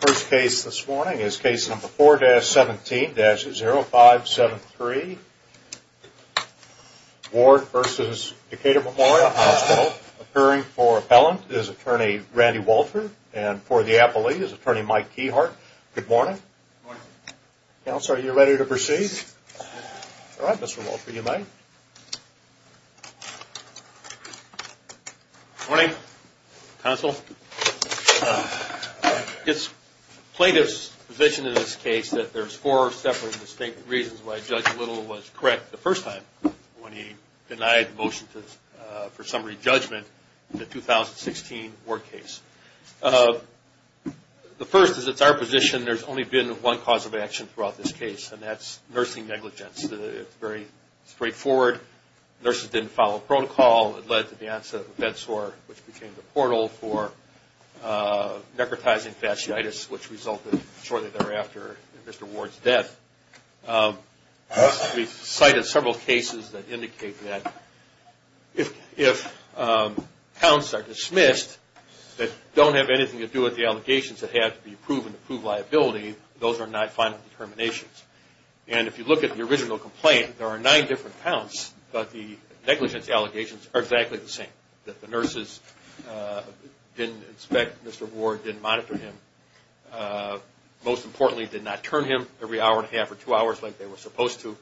First case this morning is case number 4-17-0573, Ward v. Decatur Memorial Hospital. Appearing for appellant is attorney Randy Walter and for the appellee is attorney Mike Keyhart. Good morning. Good morning. Counsel, are you ready to proceed? Yes. All right, Mr. Walter, you may. Good morning, counsel. It's plaintiff's position in this case that there's four separate distinct reasons why Judge Little was correct the first time when he denied the motion for summary judgment in the 2016 Ward case. The first is it's our position there's only been one cause of action throughout this case, and that's nursing negligence. It's very straightforward. Nurses didn't follow protocol. It led to the onset of a bed sore, which became the portal for necrotizing fasciitis, which resulted shortly thereafter in Mr. Ward's death. We've cited several cases that indicate that if counts are dismissed that don't have anything to do with the allegations that have to be approved in approved liability, those are not final determinations. And if you look at the original complaint, there are nine different counts, but the negligence allegations are exactly the same, that the nurses didn't inspect Mr. Ward, didn't monitor him, most importantly did not turn him every hour and a half or two hours like they were supposed to,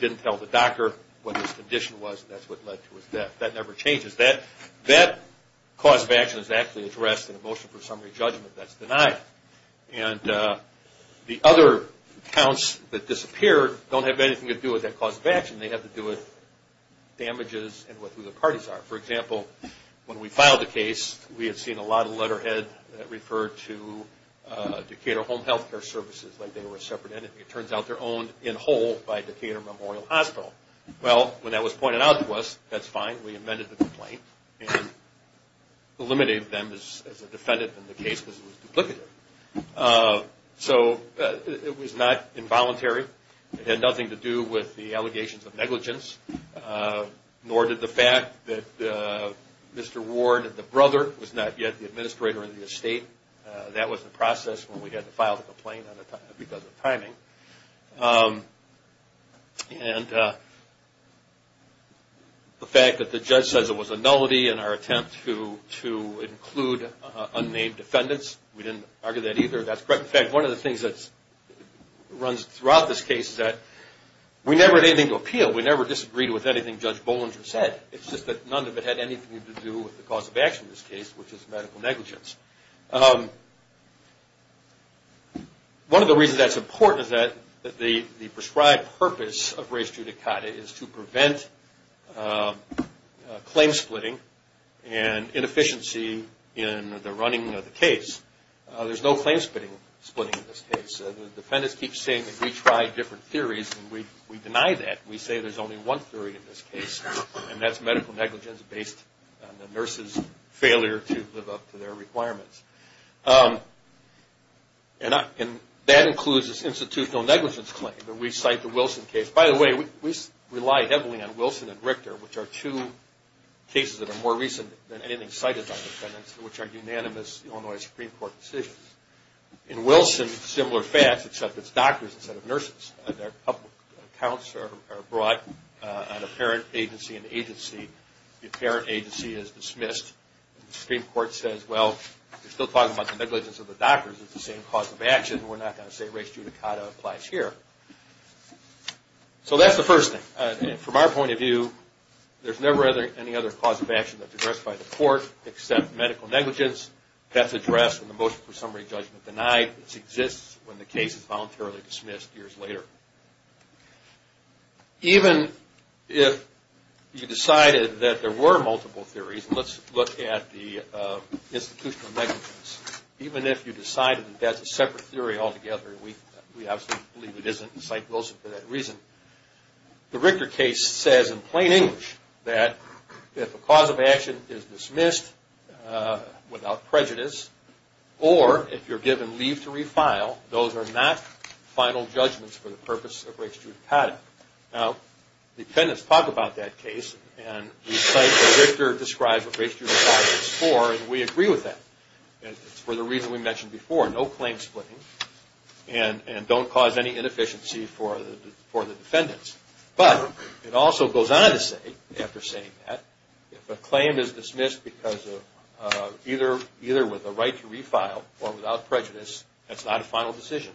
didn't tell the doctor what his condition was, and that's what led to his death. That never changes. That cause of action is actually addressed in the motion for summary judgment that's denied. And the other counts that disappeared don't have anything to do with that cause of action. They have to do with damages and with who the parties are. For example, when we filed the case, we had seen a lot of letterhead that referred to Decatur Home Health Care Services like they were a separate entity. It turns out they're owned in whole by Decatur Memorial Hospital. Well, when that was pointed out to us, that's fine. We amended the complaint and eliminated them as a defendant in the case because it was duplicative. So it was not involuntary. It had nothing to do with the allegations of negligence, nor did the fact that Mr. Ward, the brother, was not yet the administrator of the estate. That was the process when we had to file the complaint because of timing. And the fact that the judge says it was a nullity in our attempt to include unnamed defendants, we didn't argue that either. That's correct. In fact, one of the things that runs throughout this case is that we never had anything to appeal. We never disagreed with anything Judge Bollinger said. It's just that none of it had anything to do with the cause of action in this case, which is medical negligence. One of the reasons that's important is that the prescribed purpose of race judicata is to prevent claim splitting and inefficiency in the running of the case. There's no claim splitting in this case. The defendants keep saying that we try different theories, and we deny that. We say there's only one theory in this case, and that's medical negligence based on the nurses' failure to live up to their requirements. And that includes this institutional negligence claim that we cite the Wilson case. By the way, we rely heavily on Wilson and Richter, which are two cases that are more recent than anything cited by defendants, which are unanimous Illinois Supreme Court decisions. In Wilson, similar facts, except it's doctors instead of nurses. Their public accounts are brought on apparent agency and agency. The apparent agency is dismissed. The Supreme Court says, well, you're still talking about the negligence of the doctors. It's the same cause of action. We're not going to say race judicata applies here. So that's the first thing. From our point of view, there's never any other cause of action that's addressed by the court except medical negligence. That's addressed in the motion for summary judgment denied. It exists when the case is voluntarily dismissed years later. Even if you decided that there were multiple theories, and let's look at the institutional negligence, even if you decided that that's a separate theory altogether, and we absolutely believe it isn't, and cite Wilson for that reason, the Richter case says in plain English that if a cause of action is dismissed without prejudice or if you're given leave to refile, those are not final judgments for the purpose of race judicata. Now, defendants talk about that case, and we cite that Richter describes what race judicata is for, and we agree with that. It's for the reason we mentioned before, no claim splitting, and don't cause any inefficiency for the defendants. But it also goes on to say, after saying that, if a claim is dismissed because of either with a right to refile or without prejudice, that's not a final decision.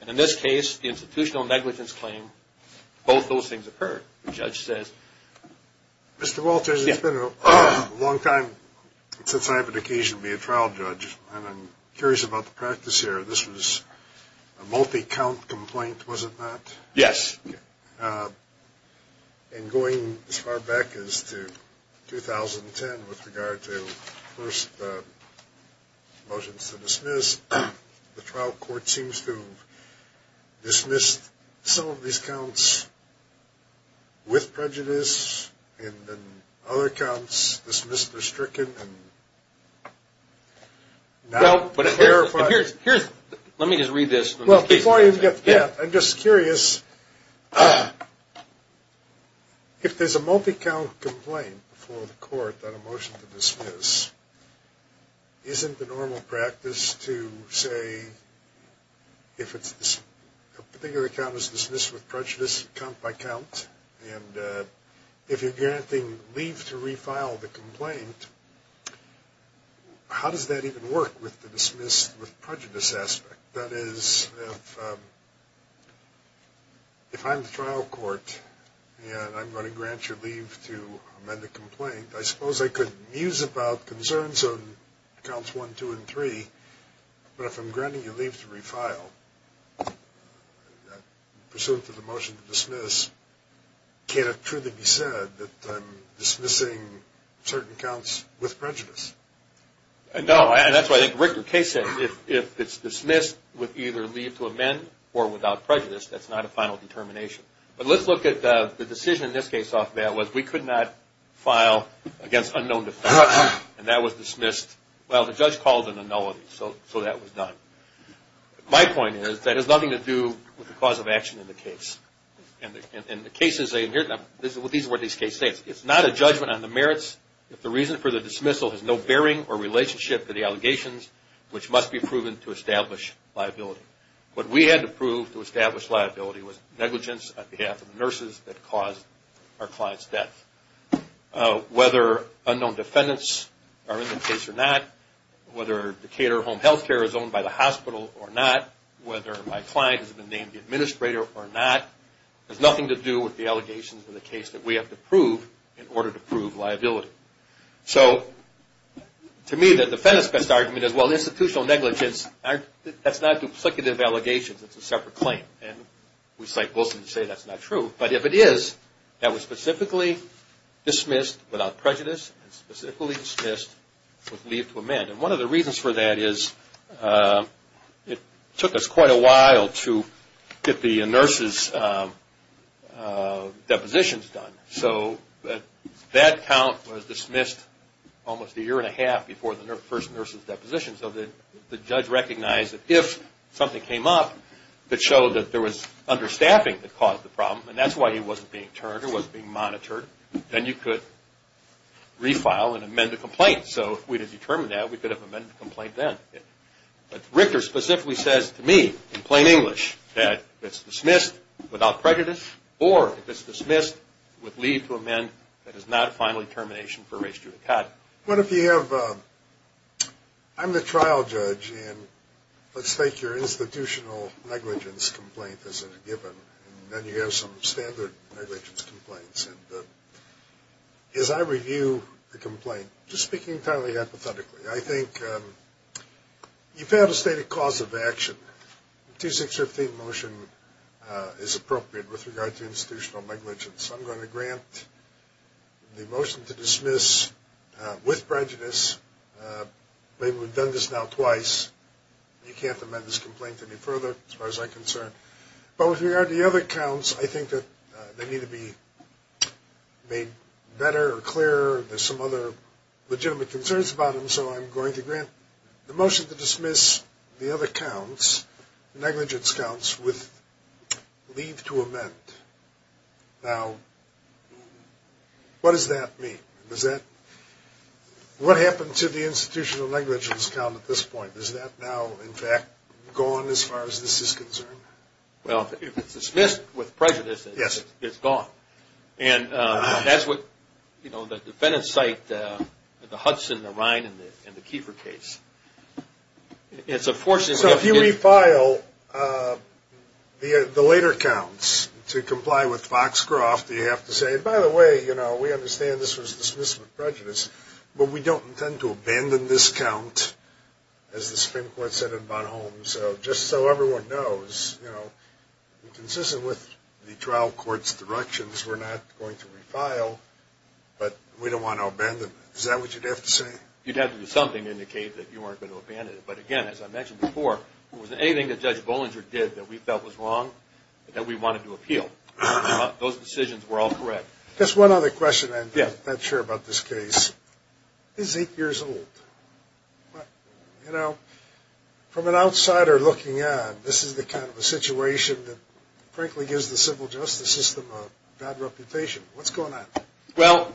And in this case, institutional negligence claim, both those things occur. The judge says… Mr. Walters, it's been a long time since I have an occasion to be a trial judge, and I'm curious about the practice here. This was a multi-count complaint, was it not? Yes. And going as far back as to 2010 with regard to the first motions to dismiss, the trial court seems to have dismissed some of these counts with prejudice, and then other counts dismissed or stricken. Let me just read this. I'm just curious. If there's a multi-count complaint before the court on a motion to dismiss, isn't the normal practice to say if a particular count is dismissed with prejudice count by count, and if you're guaranteeing leave to refile the complaint, how does that even work with the dismiss with prejudice aspect? That is, if I'm the trial court and I'm going to grant you leave to amend the complaint, I suppose I could muse about concerns on counts one, two, and three, but if I'm granting you leave to refile pursuant to the motion to dismiss, can it truly be said that I'm dismissing certain counts with prejudice? No, and that's what I think Rick or Kay said. If it's dismissed with either leave to amend or without prejudice, that's not a final determination. But let's look at the decision in this case off bail was we could not file against unknown defense, and that was dismissed. Well, the judge called an annulment, so that was done. My point is that has nothing to do with the cause of action in the case. And the cases in here, these are what these cases say. It's not a judgment on the merits if the reason for the dismissal has no bearing or relationship to the allegations, which must be proven to establish liability. What we had to prove to establish liability was negligence on behalf of the nurses that caused our client's death. Whether unknown defendants are in the case or not, whether Decatur Home Health Care is owned by the hospital or not, whether my client has been named the administrator or not, has nothing to do with the allegations in the case that we have to prove in order to prove liability. So to me, the defendant's best argument is, well, institutional negligence, that's not duplicative allegations. It's a separate claim. And we cite Wilson to say that's not true. But if it is, that was specifically dismissed without prejudice and specifically dismissed with leave to amend. And one of the reasons for that is it took us quite a while to get the nurses' depositions done. So that count was dismissed almost a year and a half before the first nurse's deposition. So the judge recognized that if something came up that showed that there was understaffing that caused the problem, and that's why he wasn't being turned or wasn't being monitored, then you could refile and amend the complaint. So if we had determined that, we could have amended the complaint then. But Richter specifically says to me in plain English that if it's dismissed without prejudice or if it's dismissed with leave to amend, that is not a final determination for race judicata. What if you have – I'm the trial judge, and let's take your institutional negligence complaint as a given, and then you have some standard negligence complaints. As I review the complaint, just speaking entirely hypothetically, I think you've had a stated cause of action. The 2615 motion is appropriate with regard to institutional negligence. I'm going to grant the motion to dismiss with prejudice. We've done this now twice. You can't amend this complaint any further as far as I'm concerned. But with regard to the other counts, I think that they need to be made better or clearer. There's some other legitimate concerns about them, so I'm going to grant the motion to dismiss the other counts, negligence counts, with leave to amend. Now, what does that mean? Does that – what happened to the institutional negligence count at this point? Is that now, in fact, gone as far as this is concerned? Well, if it's dismissed with prejudice, it's gone. And that's what the defendants cite at the Hudson, the Rhine, and the Kiefer case. So if you refile the later counts to comply with Foxcroft, do you have to say, by the way, we understand this was dismissed with prejudice, but we don't intend to abandon this count, as the Supreme Court said in Bonhomme. So just so everyone knows, you know, consistent with the trial court's directions, we're not going to refile, but we don't want to abandon it. Is that what you'd have to say? You'd have to do something to indicate that you weren't going to abandon it. But, again, as I mentioned before, was there anything that Judge Bollinger did that we felt was wrong that we wanted to appeal? Those decisions were all correct. Just one other question. I'm not sure about this case. This is eight years old. You know, from an outsider looking on, this is the kind of a situation that, frankly, gives the civil justice system a bad reputation. What's going on? Well,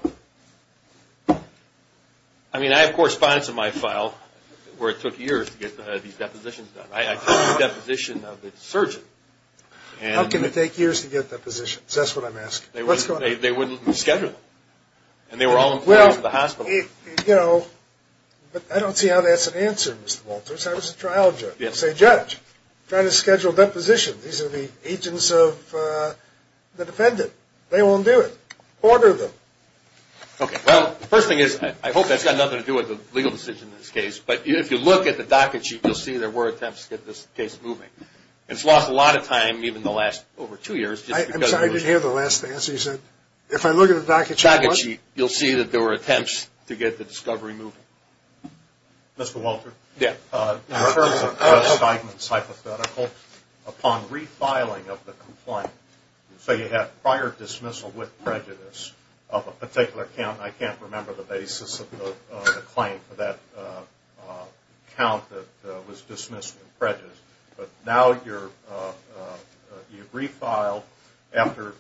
I mean, I have correspondence in my file where it took years to get these depositions done. I took the deposition of the surgeon. How can it take years to get depositions? That's what I'm asking. They wouldn't schedule them. And they were all in the hospital. You know, I don't see how that's an answer, Mr. Walters. That was a trial judge. Say, Judge, try to schedule a deposition. These are the agents of the defendant. They won't do it. Order them. Okay. Well, the first thing is, I hope that's got nothing to do with the legal decision in this case, but if you look at the docket sheet, you'll see there were attempts to get this case moving. It's lost a lot of time, even the last over two years. I'm sorry, I didn't hear the last answer you said. If I look at the docket sheet, you'll see that there were attempts to get the discovery moving. Mr. Walter? Yeah. In reference to Judge Steigman's hypothetical, upon refiling of the complaint, so you have prior dismissal with prejudice of a particular count. I can't remember the basis of the claim for that count that was dismissed with prejudice. But now you've refiled after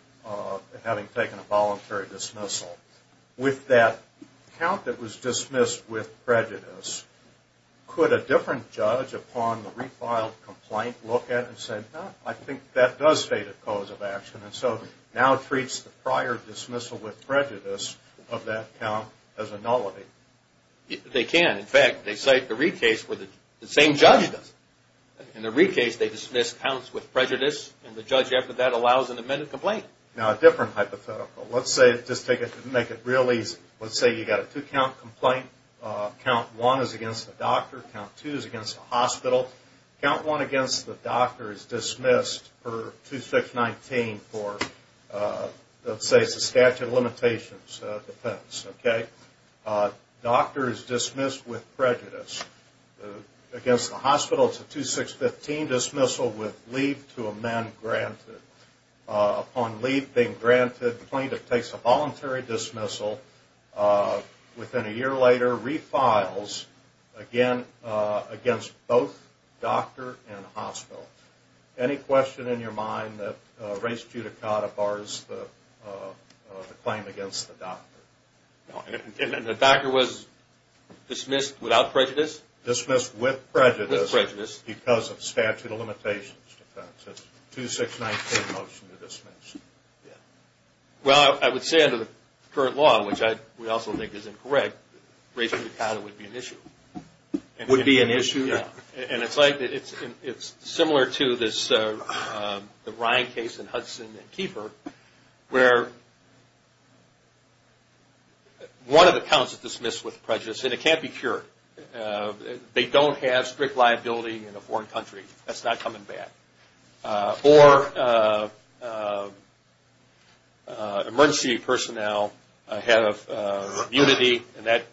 having taken a voluntary dismissal. With that count that was dismissed with prejudice, could a different judge upon the refiled complaint look at it and say, I think that does state a cause of action, and so now treats the prior dismissal with prejudice of that count as a nullity? They can. In fact, they cite the Reed case where the same judge does it. In the Reed case, they dismiss counts with prejudice, and the judge after that allows an amended complaint. Now, a different hypothetical. Let's just make it real easy. Let's say you've got a two-count complaint. Count one is against the doctor. Count two is against the hospital. Count one against the doctor is dismissed per 2619 for, let's say, it's a statute of limitations. Okay? Doctor is dismissed with prejudice. Against the hospital, it's a 2615 dismissal with leave to amend granted. Upon leave being granted, the plaintiff takes a voluntary dismissal. Within a year later, refiles again against both doctor and hospital. Any question in your mind that race judicata bars the claim against the doctor? The doctor was dismissed without prejudice? Dismissed with prejudice because of statute of limitations. It's a 2619 motion to dismiss. Well, I would say under the current law, which I would also think is incorrect, race judicata would be an issue. Would be an issue? Yeah. And it's similar to the Ryan case in Hudson and Keeper where one of the counts is dismissed with prejudice, and it can't be cured. They don't have strict liability in a foreign country. That's not coming back. Or emergency personnel have immunity, and that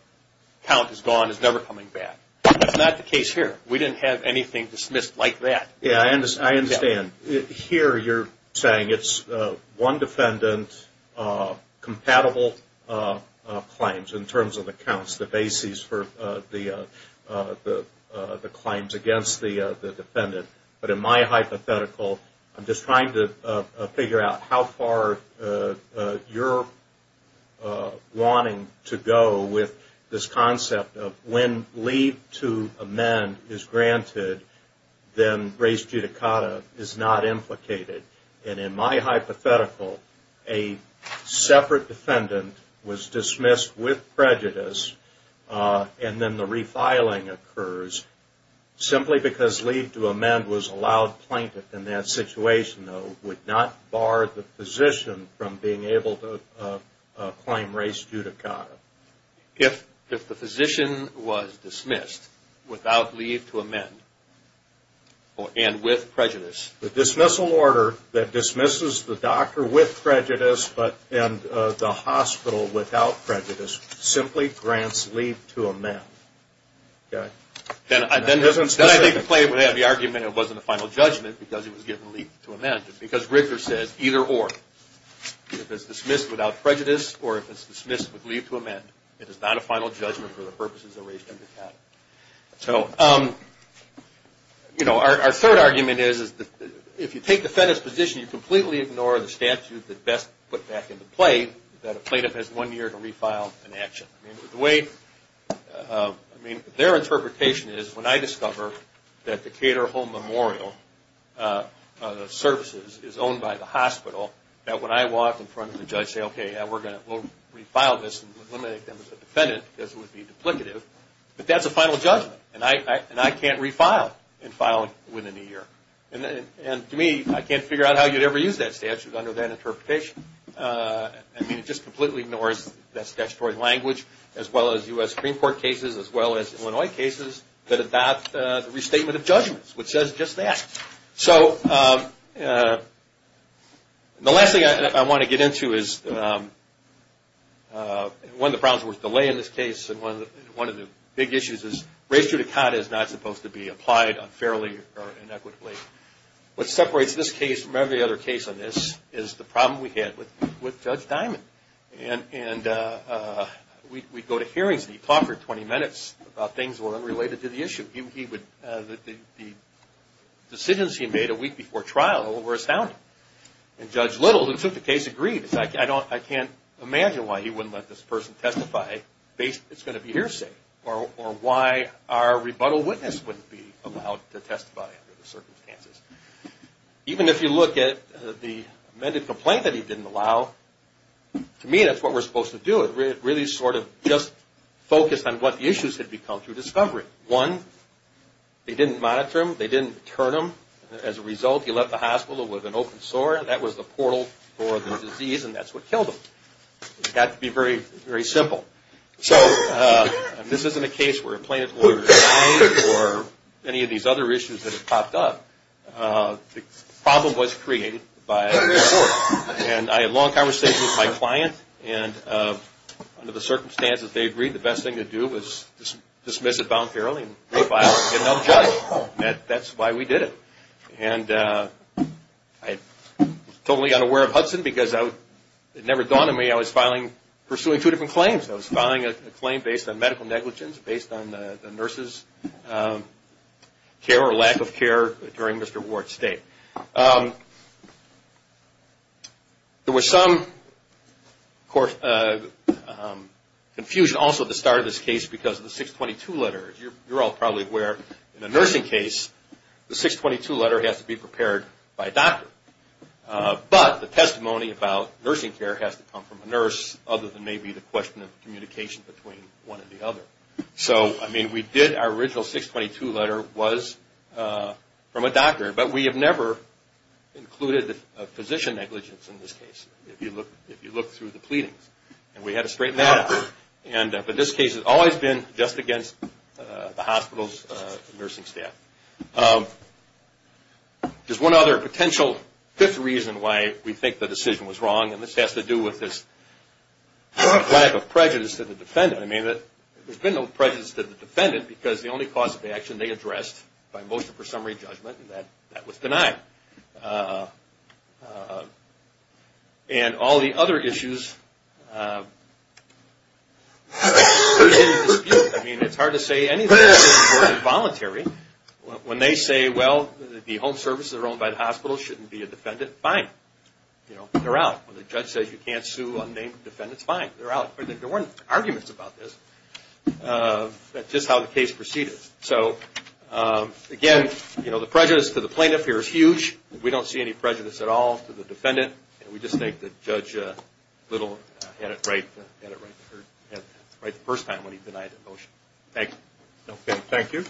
count is gone. It's never coming back. That's not the case here. We didn't have anything dismissed like that. Yeah, I understand. Here you're saying it's one defendant compatible claims in terms of the counts, the bases for the claims against the defendant. But in my hypothetical, I'm just trying to figure out how far you're wanting to go with this concept of when leave to amend is granted, then race judicata is not implicated. And in my hypothetical, a separate defendant was dismissed with prejudice, and then the refiling occurs. Simply because leave to amend was allowed plaintiff in that situation, though, would not bar the physician from being able to claim race judicata. If the physician was dismissed without leave to amend and with prejudice. The dismissal order that dismisses the doctor with prejudice and the hospital without prejudice simply grants leave to amend. Then I think the claim would have the argument it wasn't a final judgment because it was given leave to amend. Because Rigler says either or. If it's dismissed without prejudice or if it's dismissed with leave to amend, it is not a final judgment for the purposes of race judicata. So, you know, our third argument is if you take the defendant's position, you completely ignore the statute that best put back into play that a plaintiff has one year to refile an action. I mean, their interpretation is when I discover that the Cater-Home Memorial services is owned by the hospital, that when I walk in front of the judge and say, okay, we're going to refile this and eliminate them as a defendant because it would be duplicative. But that's a final judgment, and I can't refile and file it within a year. And to me, I can't figure out how you'd ever use that statute under that interpretation. I mean, it just completely ignores that statutory language as well as U.S. Supreme Court cases as well as Illinois cases that adopt the restatement of judgments, which says just that. So the last thing I want to get into is one of the problems with delay in this case and one of the big issues is race judicata is not supposed to be applied unfairly or inequitably. What separates this case from every other case on this is the problem we had with Judge Diamond. And we'd go to hearings and he'd talk for 20 minutes about things that were unrelated to the issue. The decisions he made a week before trial were astounding. And Judge Little, who took the case, agreed. I can't imagine why he wouldn't let this person testify based on it's going to be hearsay or why our rebuttal witness wouldn't be allowed to testify under the circumstances. Even if you look at the amended complaint that he didn't allow, to me that's what we're supposed to do. It really sort of just focused on what the issues had become through discovery. One, they didn't monitor him, they didn't turn him. As a result, he left the hospital with an open sore. That was the portal for the disease and that's what killed him. It's got to be very simple. So this isn't a case where a plaintiff will resign or any of these other issues that have popped up. The problem was created by an open sore. And I had long conversations with my client and under the circumstances they agreed the best thing to do was dismiss it and get another judge. That's why we did it. And I totally got aware of Hudson because it never dawned on me I was pursuing two different claims. I was filing a claim based on medical negligence, based on the nurse's care or lack of care during Mr. Ward's stay. There was some confusion also at the start of this case because of the 622 letter. You're all probably aware in a nursing case the 622 letter has to be prepared by a doctor. But the testimony about nursing care has to come from a nurse other than maybe the question of communication between one and the other. So, I mean, we did our original 622 letter was from a doctor. But we have never included physician negligence in this case if you look through the pleadings. And we had to straighten that out. But this case has always been just against the hospital's nursing staff. There's one other potential fifth reason why we think the decision was wrong. And this has to do with this lack of prejudice to the defendant. I mean, there's been no prejudice to the defendant because the only cause of action they addressed by motion for summary judgment, that was denied. And all the other issues in dispute. I mean, it's hard to say anything that wasn't voluntary. When they say, well, the home services are owned by the hospital, shouldn't be a defendant, fine. You know, they're out. When the judge says you can't sue unnamed defendants, fine, they're out. There weren't arguments about this. That's just how the case proceeded. So, again, you know, the prejudice to the plaintiff here is huge. We don't see any prejudice at all to the defendant. We just think that Judge Little had it right the first time when he denied the motion. Thank you. Thank you.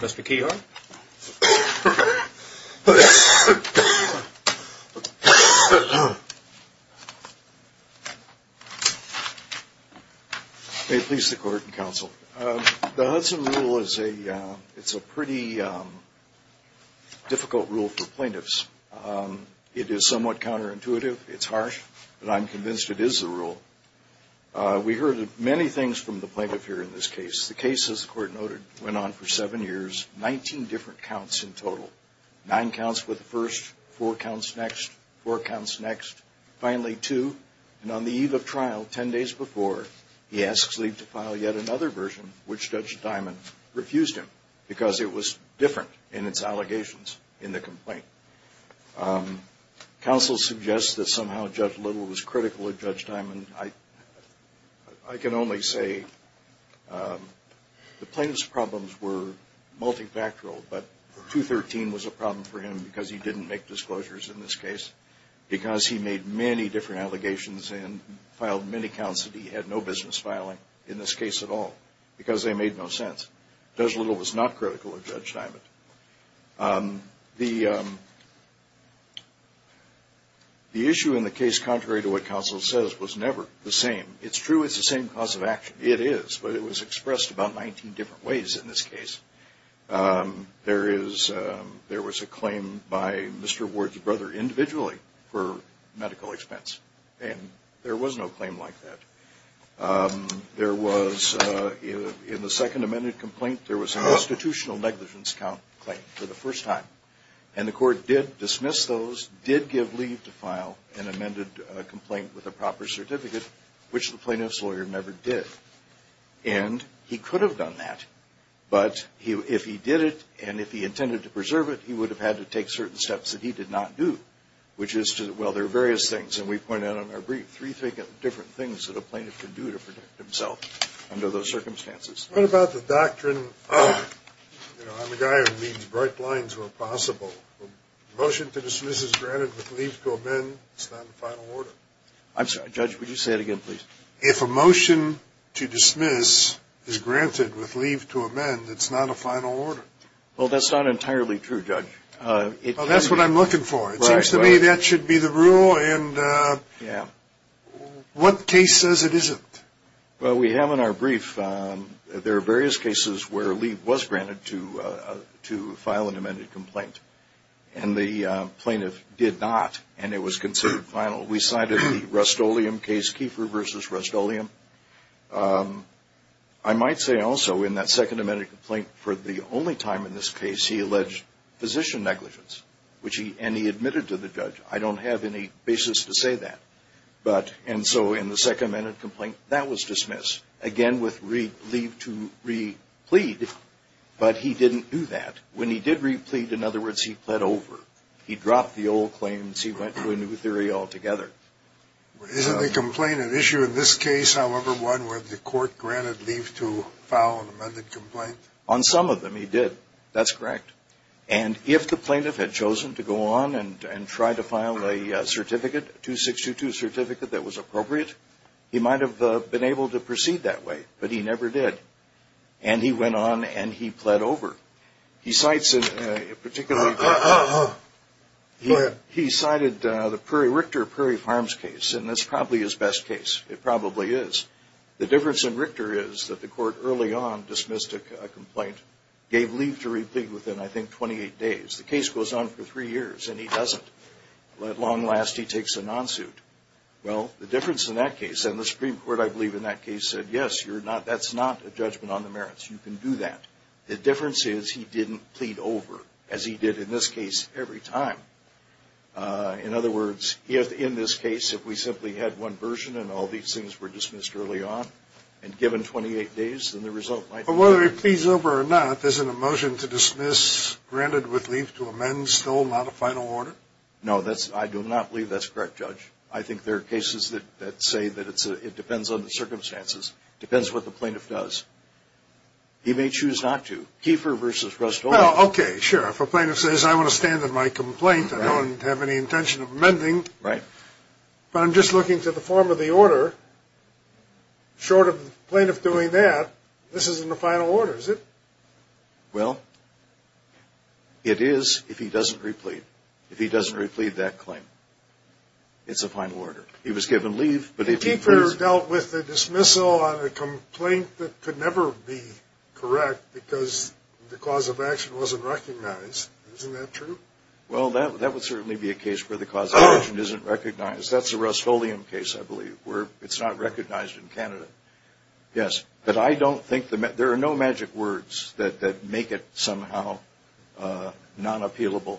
Mr. Kehoe. May it please the Court and counsel. The Hudson rule is a pretty difficult rule for plaintiffs. It is somewhat counterintuitive. It's harsh. But I'm convinced it is the rule. We heard many things from the plaintiff here in this case. The case, as the Court noted, went on for seven years, 19 different counts in total, nine counts for the first, four counts next, four counts next, finally two. And on the eve of trial, 10 days before, he asks Lee to file yet another version, which Judge Dimon refused him because it was different in its allegations in the complaint. Counsel suggests that somehow Judge Little was critical of Judge Dimon. I can only say the plaintiff's problems were multifactorial, but 213 was a problem for him because he didn't make disclosures in this case, because he made many different allegations and filed many counts that he had no business filing in this case at all, because they made no sense. Judge Little was not critical of Judge Dimon. The issue in the case, contrary to what counsel says, was never the same. It's true it's the same cause of action. It is, but it was expressed about 19 different ways in this case. There was a claim by Mr. Ward's brother individually for medical expense, and there was no claim like that. There was, in the second amended complaint, there was a constitutional negligence claim for the first time, and the court did dismiss those, did give Lee to file an amended complaint with a proper certificate, which the plaintiff's lawyer never did. And he could have done that, but if he did it and if he intended to preserve it, he would have had to take certain steps that he did not do, which is to, well, there are various things, and we point out in our brief, there are three different things that a plaintiff can do to protect himself under those circumstances. What about the doctrine of, you know, I'm a guy who reads bright lines where possible. A motion to dismiss is granted with leave to amend. It's not a final order. I'm sorry, Judge, would you say it again, please? If a motion to dismiss is granted with leave to amend, it's not a final order. Well, that's not entirely true, Judge. It seems to me that should be the rule. And what case says it isn't? Well, we have in our brief, there are various cases where leave was granted to file an amended complaint, and the plaintiff did not, and it was considered final. We cited the Rust-Oleum case, Keefer v. Rust-Oleum. I might say also in that second amended complaint, for the only time in this case he alleged physician negligence, and he admitted to the judge. I don't have any basis to say that. But, and so in the second amended complaint, that was dismissed. Again, with leave to re-plead, but he didn't do that. When he did re-plead, in other words, he pled over. He dropped the old claims. He went to a new theory altogether. Isn't a complaint an issue in this case, however, one where the court granted leave to file an amended complaint? On some of them, he did. That's correct. And if the plaintiff had chosen to go on and try to file a certificate, 2622 certificate that was appropriate, he might have been able to proceed that way, but he never did. And he went on and he pled over. He cites, particularly, he cited the Prairie-Richter Prairie Farms case, and that's probably his best case. It probably is. The difference in Richter is that the court early on dismissed a complaint, gave leave to re-plead within, I think, 28 days. The case goes on for three years, and he doesn't. At long last, he takes a non-suit. Well, the difference in that case, and the Supreme Court, I believe, in that case, said, yes, that's not a judgment on the merits. You can do that. The difference is he didn't plead over, as he did in this case every time. In other words, in this case, if we simply had one version and all these things were dismissed early on and given 28 days, then the result might be different. Whether he pleads over or not, isn't a motion to dismiss granted with leave to amend still not a final order? No, I do not believe that's correct, Judge. I think there are cases that say that it depends on the circumstances. It depends what the plaintiff does. He may choose not to. Keefer v. Rustola. Well, okay, sure. If a plaintiff says, I want to stand in my complaint, I don't have any intention of amending. Right. But I'm just looking to the form of the order. Short of the plaintiff doing that, this isn't a final order, is it? Well, it is if he doesn't replead. If he doesn't replead that claim, it's a final order. He was given leave, but if he pleases. Keefer dealt with the dismissal on a complaint that could never be correct because the cause of action wasn't recognized. Isn't that true? Well, that would certainly be a case where the cause of action isn't recognized. That's the Rustolian case, I believe, where it's not recognized in Canada. Yes. But I don't think there are no magic words that make it somehow non-appealable.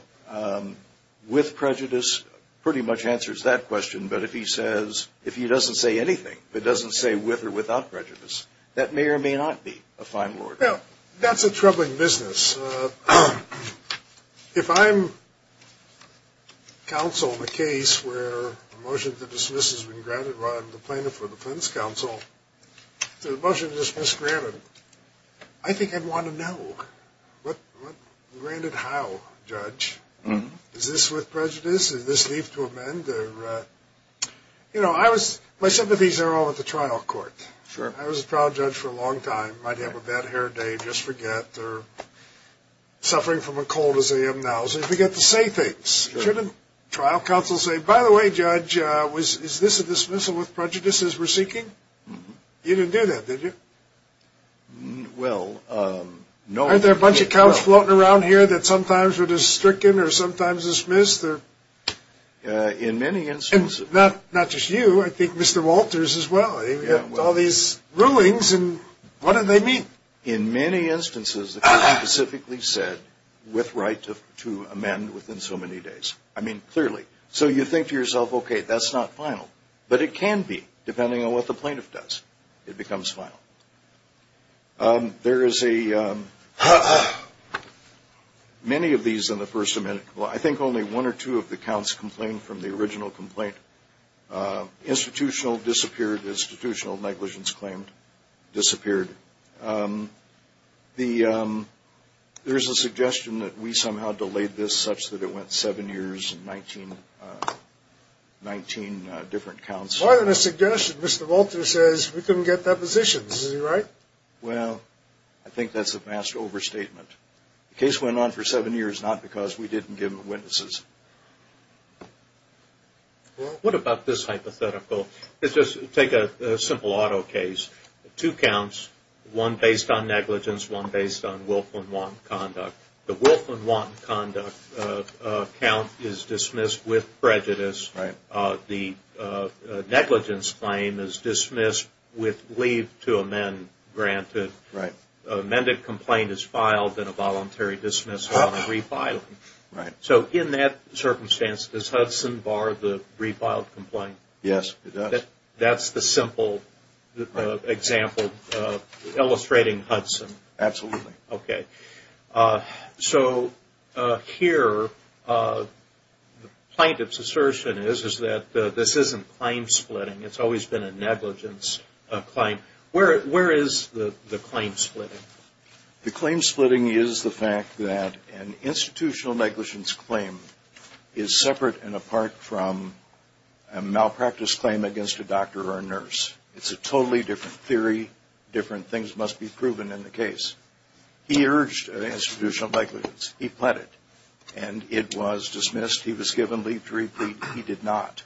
With prejudice pretty much answers that question, but if he doesn't say anything, if he doesn't say with or without prejudice, that may or may not be a final order. Well, that's a troubling business. If I'm counsel in a case where a motion to dismiss has been granted while I'm the plaintiff or defense counsel, the motion to dismiss granted, I think I'd want to know what granted how, judge. Is this with prejudice? Does this leave to amend? You know, my sympathies are all with the trial court. Sure. I was a proud judge for a long time. I might have a bad hair day, just forget, or suffering from a cold as I am now, so I forget to say things. Shouldn't trial counsel say, by the way, judge, is this a dismissal with prejudice as we're seeking? You didn't do that, did you? Well, no. Aren't there a bunch of counts floating around here that sometimes are just stricken or sometimes dismissed? In many instances. Not just you. I think Mr. Walters as well. We've got all these rulings, and what do they mean? In many instances, it can be specifically said with right to amend within so many days. I mean, clearly. So you think to yourself, okay, that's not final. But it can be, depending on what the plaintiff does. It becomes final. There is a many of these in the First Amendment. I think only one or two of the counts complain from the original complaint. Institutional disappeared. Institutional negligence claimed disappeared. There is a suggestion that we somehow delayed this such that it went seven years and 19 different counts. Well, in the suggestion, Mr. Walters says we couldn't get depositions. Is he right? Well, I think that's a vast overstatement. The case went on for seven years not because we didn't give him witnesses. What about this hypothetical? Let's just take a simple auto case. Two counts, one based on negligence, one based on willful and wanton conduct. The willful and wanton conduct count is dismissed with prejudice. The negligence claim is dismissed with leave to amend granted. An amended complaint is filed and a voluntary dismissal and a refiling. So in that circumstance, does Hudson bar the refiled complaint? Yes, it does. That's the simple example illustrating Hudson. Absolutely. Okay. So here, the plaintiff's assertion is that this isn't claim splitting. It's always been a negligence claim. Where is the claim splitting? The claim splitting is the fact that an institutional negligence claim is separate and apart from a malpractice claim against a doctor or a nurse. It's a totally different theory. Different things must be proven in the case. He urged an institutional negligence. He pled it, and it was dismissed. He was given leave to replete. He did not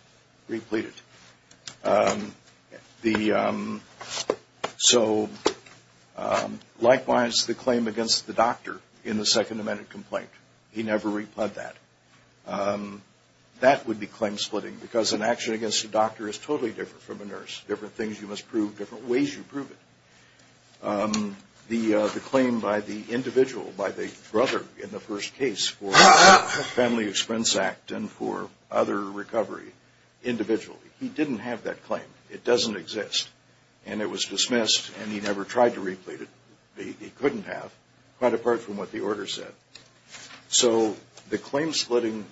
replete it. So, likewise, the claim against the doctor in the second amended complaint, he never replete that. That would be claim splitting because an action against a doctor is totally different from a nurse. Different things you must prove. Different ways you prove it. The claim by the individual, by the brother in the first case, for the Family Expense Act and for other recovery individually, he didn't have that claim. It doesn't exist. And it was dismissed, and he never tried to replete it. He couldn't have, quite apart from what the order said. So the claim splitting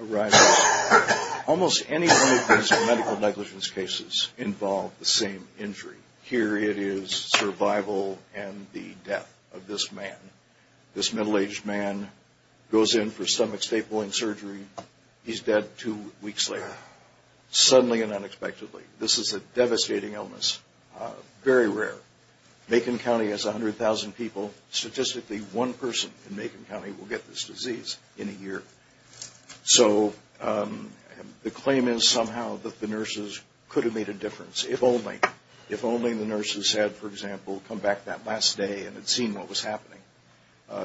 arises. Almost any one of these medical negligence cases involved the same injury. Here it is survival and the death of this man. This middle-aged man goes in for stomach stapling surgery. He's dead two weeks later, suddenly and unexpectedly. This is a devastating illness, very rare. Macon County has 100,000 people. Statistically, one person in Macon County will get this disease in a year. So the claim is somehow that the nurses could have made a difference, if only. If only the nurses had, for example, come back that last day and had seen what was happening.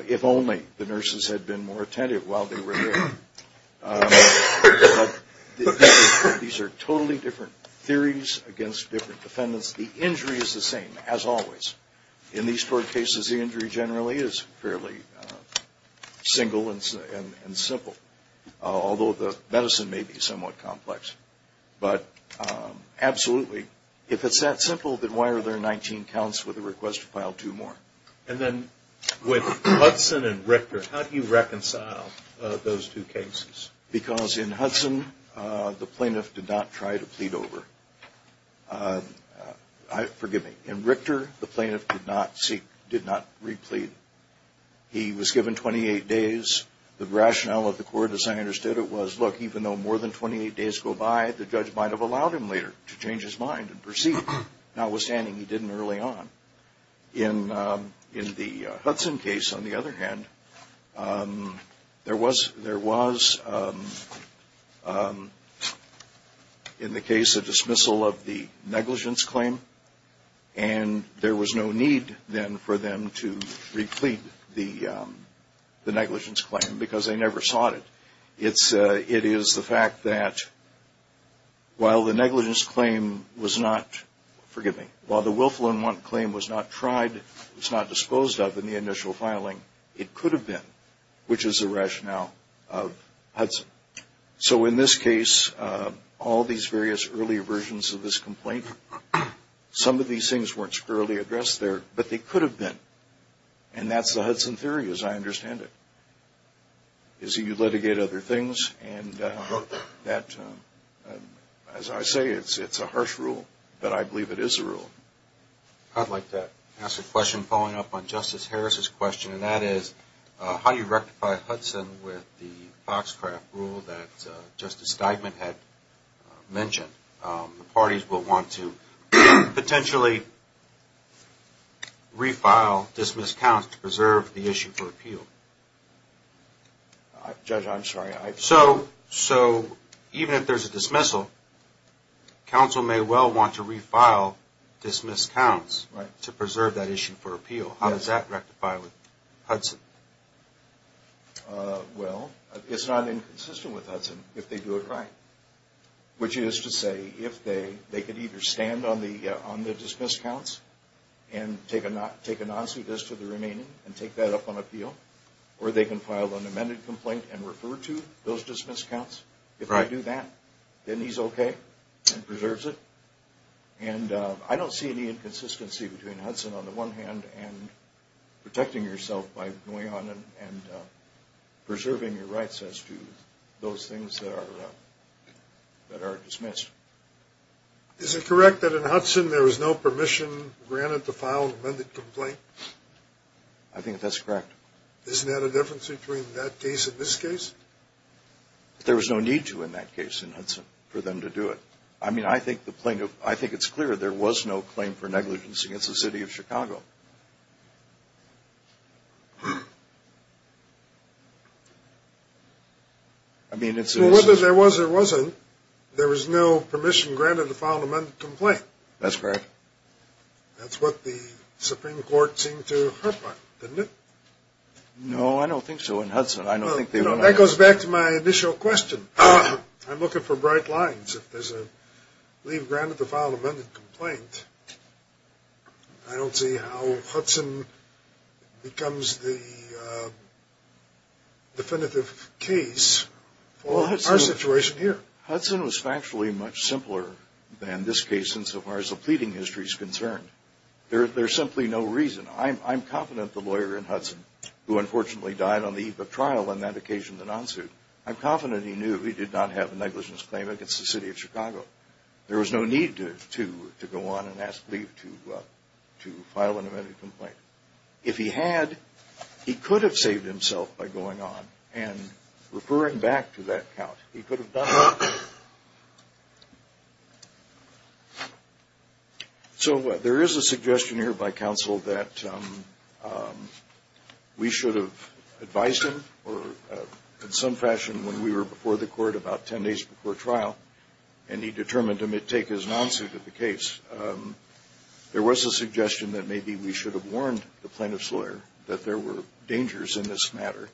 If only the nurses had been more attentive while they were there. But these are totally different theories against different defendants. The injury is the same, as always. In these four cases, the injury generally is fairly single and simple, although the medicine may be somewhat complex. But absolutely, if it's that simple, then why are there 19 counts with a request to file two more? And then with Hudson and Richter, how do you reconcile those two cases? Because in Hudson, the plaintiff did not try to plead over. Forgive me. In Richter, the plaintiff did not replead. He was given 28 days. The rationale of the court, as I understood it, was, look, even though more than 28 days go by, the judge might have allowed him later to change his mind and proceed. Notwithstanding, he didn't early on. In the Hudson case, on the other hand, there was, in the case, a dismissal of the negligence claim, and there was no need then for them to replead the negligence claim because they never sought it. It is the fact that while the negligence claim was not, forgive me, while the willful and want claim was not tried, was not disposed of in the initial filing, it could have been, which is the rationale of Hudson. So in this case, all these various early versions of this complaint, some of these things weren't squarely addressed there, but they could have been. And that's the Hudson theory, as I understand it. You litigate other things, and that, as I say, it's a harsh rule, but I believe it is a rule. I'd like to ask a question following up on Justice Harris' question, and that is, how do you rectify Hudson with the Foxcraft rule that Justice Steigman had mentioned? The parties will want to potentially refile, dismiss counts to preserve the issue for appeal. Judge, I'm sorry. So even if there's a dismissal, counsel may well want to refile dismissed counts to preserve that issue for appeal. How does that rectify with Hudson? Well, it's not inconsistent with Hudson if they do it right, which is to say if they could either stand on the dismissed counts and take a non-suit as to the remaining and take that up on appeal, or they can file an amended complaint and refer to those dismissed counts. If I do that, then he's okay and preserves it. And I don't see any inconsistency between Hudson on the one hand and protecting yourself by going on and preserving your rights as to those things that are dismissed. Is it correct that in Hudson there was no permission granted to file an amended complaint? I think that's correct. Isn't that a difference between that case and this case? There was no need to in that case in Hudson for them to do it. I mean, I think it's clear there was no claim for negligence against the city of Chicago. Well, whether there was or wasn't, there was no permission granted to file an amended complaint. That's correct. That's what the Supreme Court seemed to hope on, didn't it? No, I don't think so in Hudson. That goes back to my initial question. I'm looking for bright lines. If there's a leave granted to file an amended complaint, I don't see how Hudson is going to do that. So Hudson becomes the definitive case for our situation here. Well, Hudson was factually much simpler than this case insofar as the pleading history is concerned. There's simply no reason. I'm confident the lawyer in Hudson, who unfortunately died on the eve of trial on that occasion in the non-suit, I'm confident he knew he did not have a negligence claim against the city of Chicago. There was no need to go on and ask leave to file an amended complaint. If he had, he could have saved himself by going on and referring back to that count. He could have done that. So there is a suggestion here by counsel that we should have advised him in some fashion when we were before the court about ten days before trial, and he determined to take his non-suit at the case. There was a suggestion that maybe we should have warned the plaintiff's lawyer that there were dangers in this matter,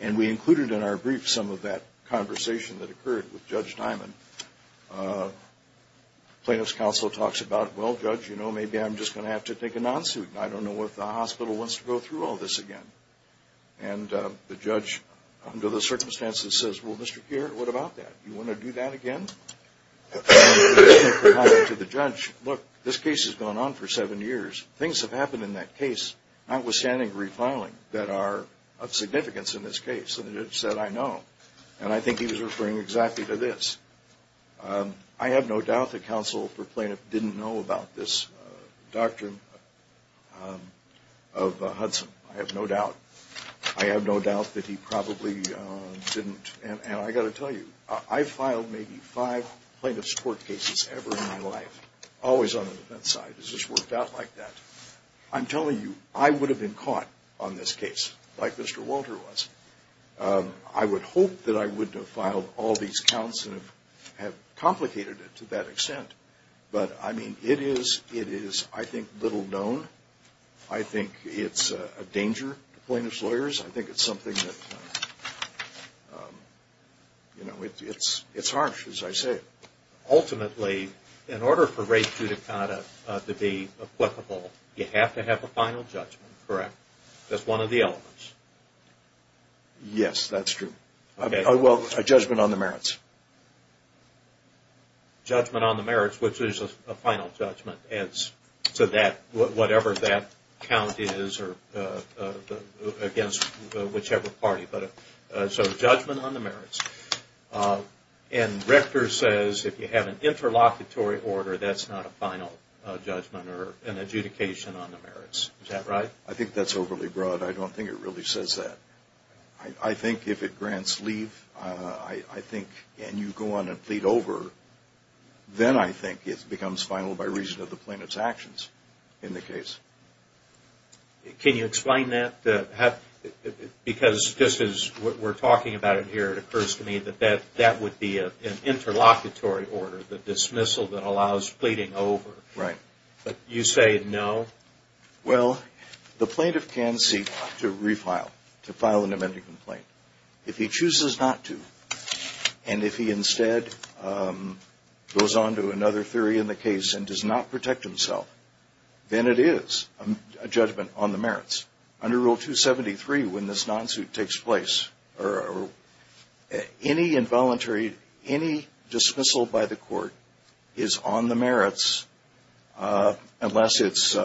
and we included in our brief some of that conversation that occurred with Judge Diamond. Plaintiff's counsel talks about, well, Judge, you know, maybe I'm just going to have to take a non-suit, and I don't know if the hospital wants to go through all this again. And the judge, under the circumstances, says, well, Mr. Keir, what about that? Do you want to do that again? To the judge, look, this case has gone on for seven years. Things have happened in that case, notwithstanding refiling, that are of significance in this case. And the judge said, I know. And I think he was referring exactly to this. I have no doubt that counsel for plaintiff didn't know about this doctrine of Hudson. I have no doubt. I have no doubt that he probably didn't. And I've got to tell you, I've filed maybe five plaintiff's court cases ever in my life, always on the defense side. It's just worked out like that. I'm telling you, I would have been caught on this case, like Mr. Walter was. I would hope that I wouldn't have filed all these counts and have complicated it to that extent. But, I mean, it is, I think, little known. I think it's a danger to plaintiff's lawyers. I think it's something that, you know, it's harsh, as I say it. Ultimately, in order for rape judicata to be applicable, you have to have a final judgment, correct? That's one of the elements. Yes, that's true. Well, a judgment on the merits. Judgment on the merits, which is a final judgment. So whatever that count is against whichever party. So judgment on the merits. And Richter says if you have an interlocutory order, that's not a final judgment or an adjudication on the merits. Is that right? I think that's overly broad. I don't think it really says that. I think if it grants leave, I think, and you go on and plead over, then I think it becomes final by reason of the plaintiff's actions in the case. Can you explain that? Because just as we're talking about it here, it occurs to me that that would be an interlocutory order, the dismissal that allows pleading over. Right. But you say no? Well, the plaintiff can seek to refile, to file an amending complaint. If he chooses not to, and if he instead goes on to another theory in the case and does not protect himself, then it is a judgment on the merits. Under Rule 273, when this non-suit takes place, any involuntary, any dismissal by the court is on the merits, unless it's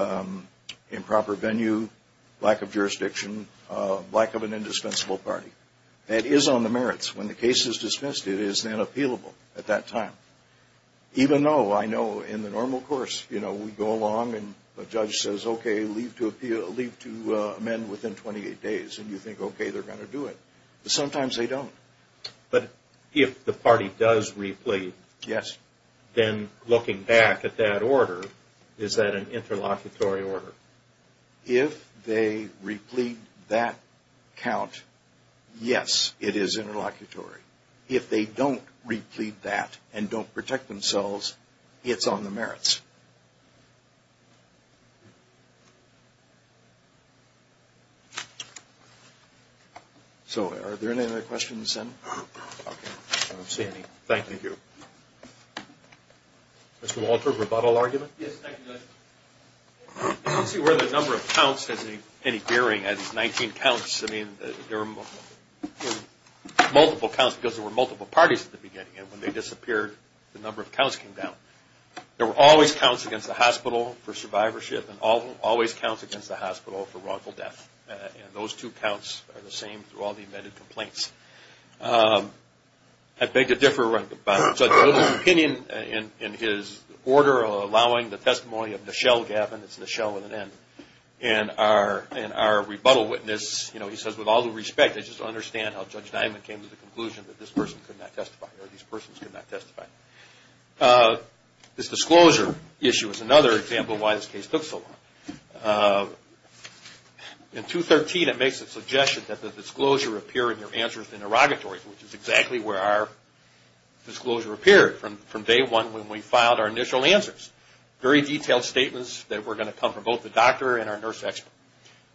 improper venue, lack of jurisdiction, lack of an indispensable party. It is on the merits. When the case is dismissed, it is then appealable at that time. Even though I know in the normal course, you know, we go along and a judge says, okay, leave to amend within 28 days, and you think, okay, they're going to do it. But sometimes they don't. But if the party does replete, then looking back at that order, is that an interlocutory order? If they replete that count, yes, it is interlocutory. If they don't replete that and don't protect themselves, it's on the merits. So are there any other questions? I don't see any. Thank you. Mr. Walter, rebuttal argument? Yes, thank you, Judge. I don't see where the number of counts has any bearing. I mean, there are multiple counts because there were multiple parties at the beginning. And when they disappeared, the number of counts came down. There were always counts against the hospital for survivorship and always counts against the hospital for wrongful death. And those two counts are the same through all the amended complaints. I beg to differ. In his order allowing the testimony of Nichelle Gavin, it's Nichelle with an N, and our rebuttal witness, you know, he says, with all due respect, I just don't understand how Judge Diamond came to the conclusion that this person could not testify or these persons could not testify. This disclosure issue is another example of why this case took so long. In 213, it makes the suggestion that the disclosure appear in your answers interrogatory, which is exactly where our disclosure appeared from day one when we filed our initial answers. Very detailed statements that were going to come from both the doctor and our nurse expert.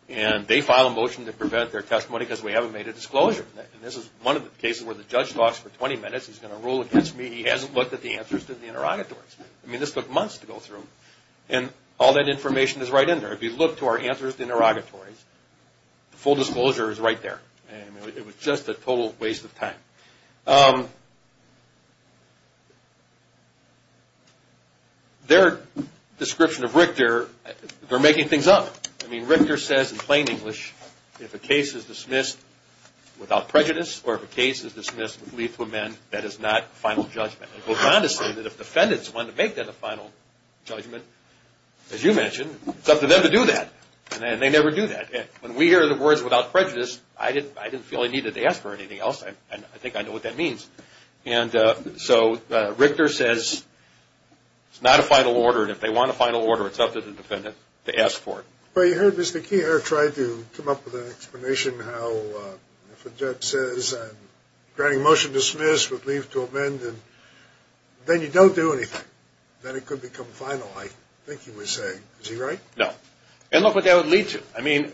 And they filed a motion to prevent their testimony because we haven't made a disclosure. And this is one of the cases where the judge talks for 20 minutes. He's going to rule against me. He hasn't looked at the answers to the interrogatories. I mean, this took months to go through. And all that information is right in there. If you look to our answers to the interrogatories, the full disclosure is right there. It was just a total waste of time. Their description of Richter, they're making things up. I mean, Richter says in plain English, if a case is dismissed without prejudice or if a case is dismissed with leave to amend, that is not final judgment. He goes on to say that if defendants want to make that a final judgment, as you mentioned, it's up to them to do that. And they never do that. When we hear the words without prejudice, I didn't feel I needed to ask for anything else. And I think I know what that means. And so Richter says it's not a final order. And if they want a final order, it's up to the defendant to ask for it. Well, you heard Mr. Kehoe try to come up with an explanation how if a judge says I'm granting motion dismissed with leave to amend, then you don't do anything. Then it could become final, I think he was saying. Is he right? No. And look what that would lead to. I mean,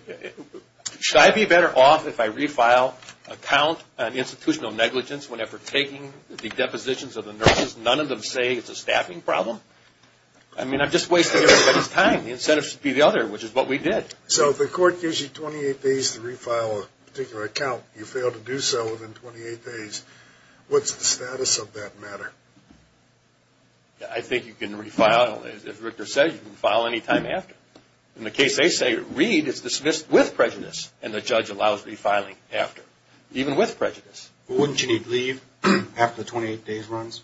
should I be better off if I refile an account on institutional negligence whenever taking the depositions of the nurses, none of them say it's a staffing problem? I mean, I'm just wasting everybody's time. The incentive should be the other, which is what we did. So if the court gives you 28 days to refile a particular account, you fail to do so within 28 days, what's the status of that matter? I think you can refile, as Richter says, you can refile any time after. In the case they say read, it's dismissed with prejudice, and the judge allows refiling after, even with prejudice. Wouldn't you need leave after the 28 days runs?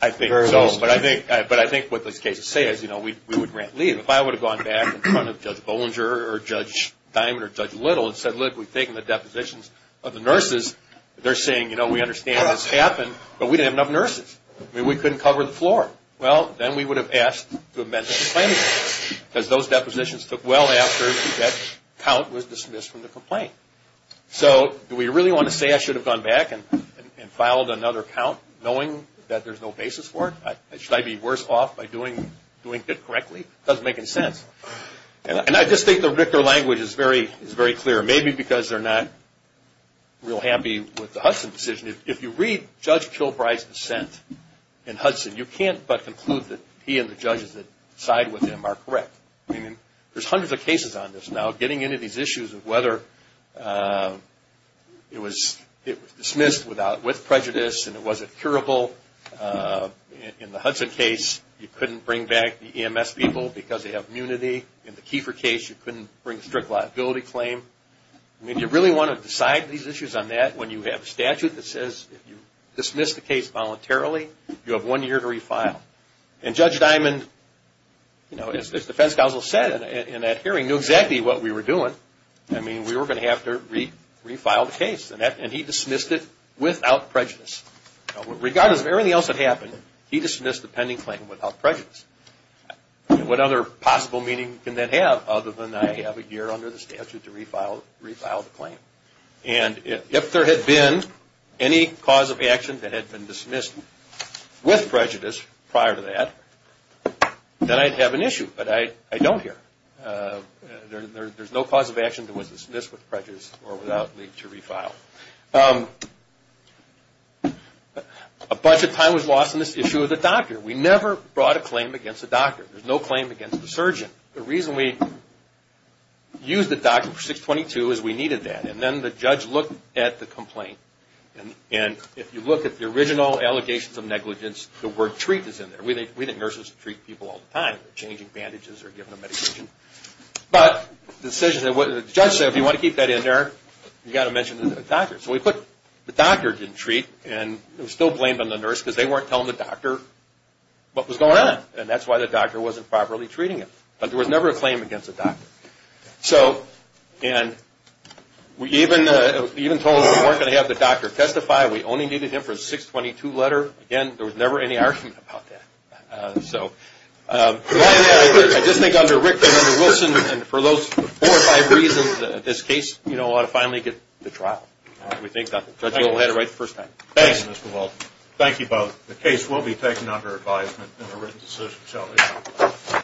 I think so, but I think what those cases say is, you know, we would grant leave. If I would have gone back in front of Judge Bollinger or Judge Diamond or Judge Little and said, look, we've taken the depositions of the nurses, they're saying, you know, we understand this happened, but we didn't have enough nurses. I mean, we couldn't cover the floor. Well, then we would have asked to amend the complaint, because those depositions took well after that count was dismissed from the complaint. So do we really want to say I should have gone back and filed another count knowing that there's no basis for it? Should I be worse off by doing it correctly? It doesn't make any sense. And I just think the Richter language is very clear, maybe because they're not real happy with the Hudson decision. If you read Judge Kilbride's dissent in Hudson, you can't but conclude that he and the judges that side with him are correct. I mean, there's hundreds of cases on this now getting into these issues of whether it was dismissed with prejudice and it wasn't curable. In the Hudson case, you couldn't bring back the EMS people because they have immunity. In the Kiefer case, you couldn't bring a strict liability claim. I mean, you really want to decide these issues on that when you have a statute that says if you dismiss the case voluntarily, you have one year to refile. And Judge Diamond, as the defense counsel said in that hearing, knew exactly what we were doing. I mean, we were going to have to refile the case, and he dismissed it without prejudice. Regardless of everything else that happened, he dismissed the pending claim without prejudice. What other possible meaning can that have other than I have a year under the statute to refile the claim? And if there had been any cause of action that had been dismissed with prejudice prior to that, then I'd have an issue, but I don't here. There's no cause of action that was dismissed with prejudice or without need to refile. A bunch of time was lost in this issue of the doctor. We never brought a claim against the doctor. There's no claim against the surgeon. The reason we used the doctor for 622 is we needed that. And then the judge looked at the complaint. And if you look at the original allegations of negligence, the word treat is in there. We think nurses treat people all the time, changing bandages or giving them medication. But the judge said, if you want to keep that in there, you've got to mention the doctor. So we put the doctor didn't treat. And it was still blamed on the nurse because they weren't telling the doctor what was going on. And that's why the doctor wasn't properly treating him. But there was never a claim against the doctor. And we even told them we weren't going to have the doctor testify. We only needed him for a 622 letter. Again, there was never any argument about that. I just think under Rick and under Wilson, for those four or five reasons, this case ought to finally get to trial. We think the judge will have it right the first time. Thank you, Mr. Walton. Thank you both. The case will be taken under advisement in a written decision, shall we?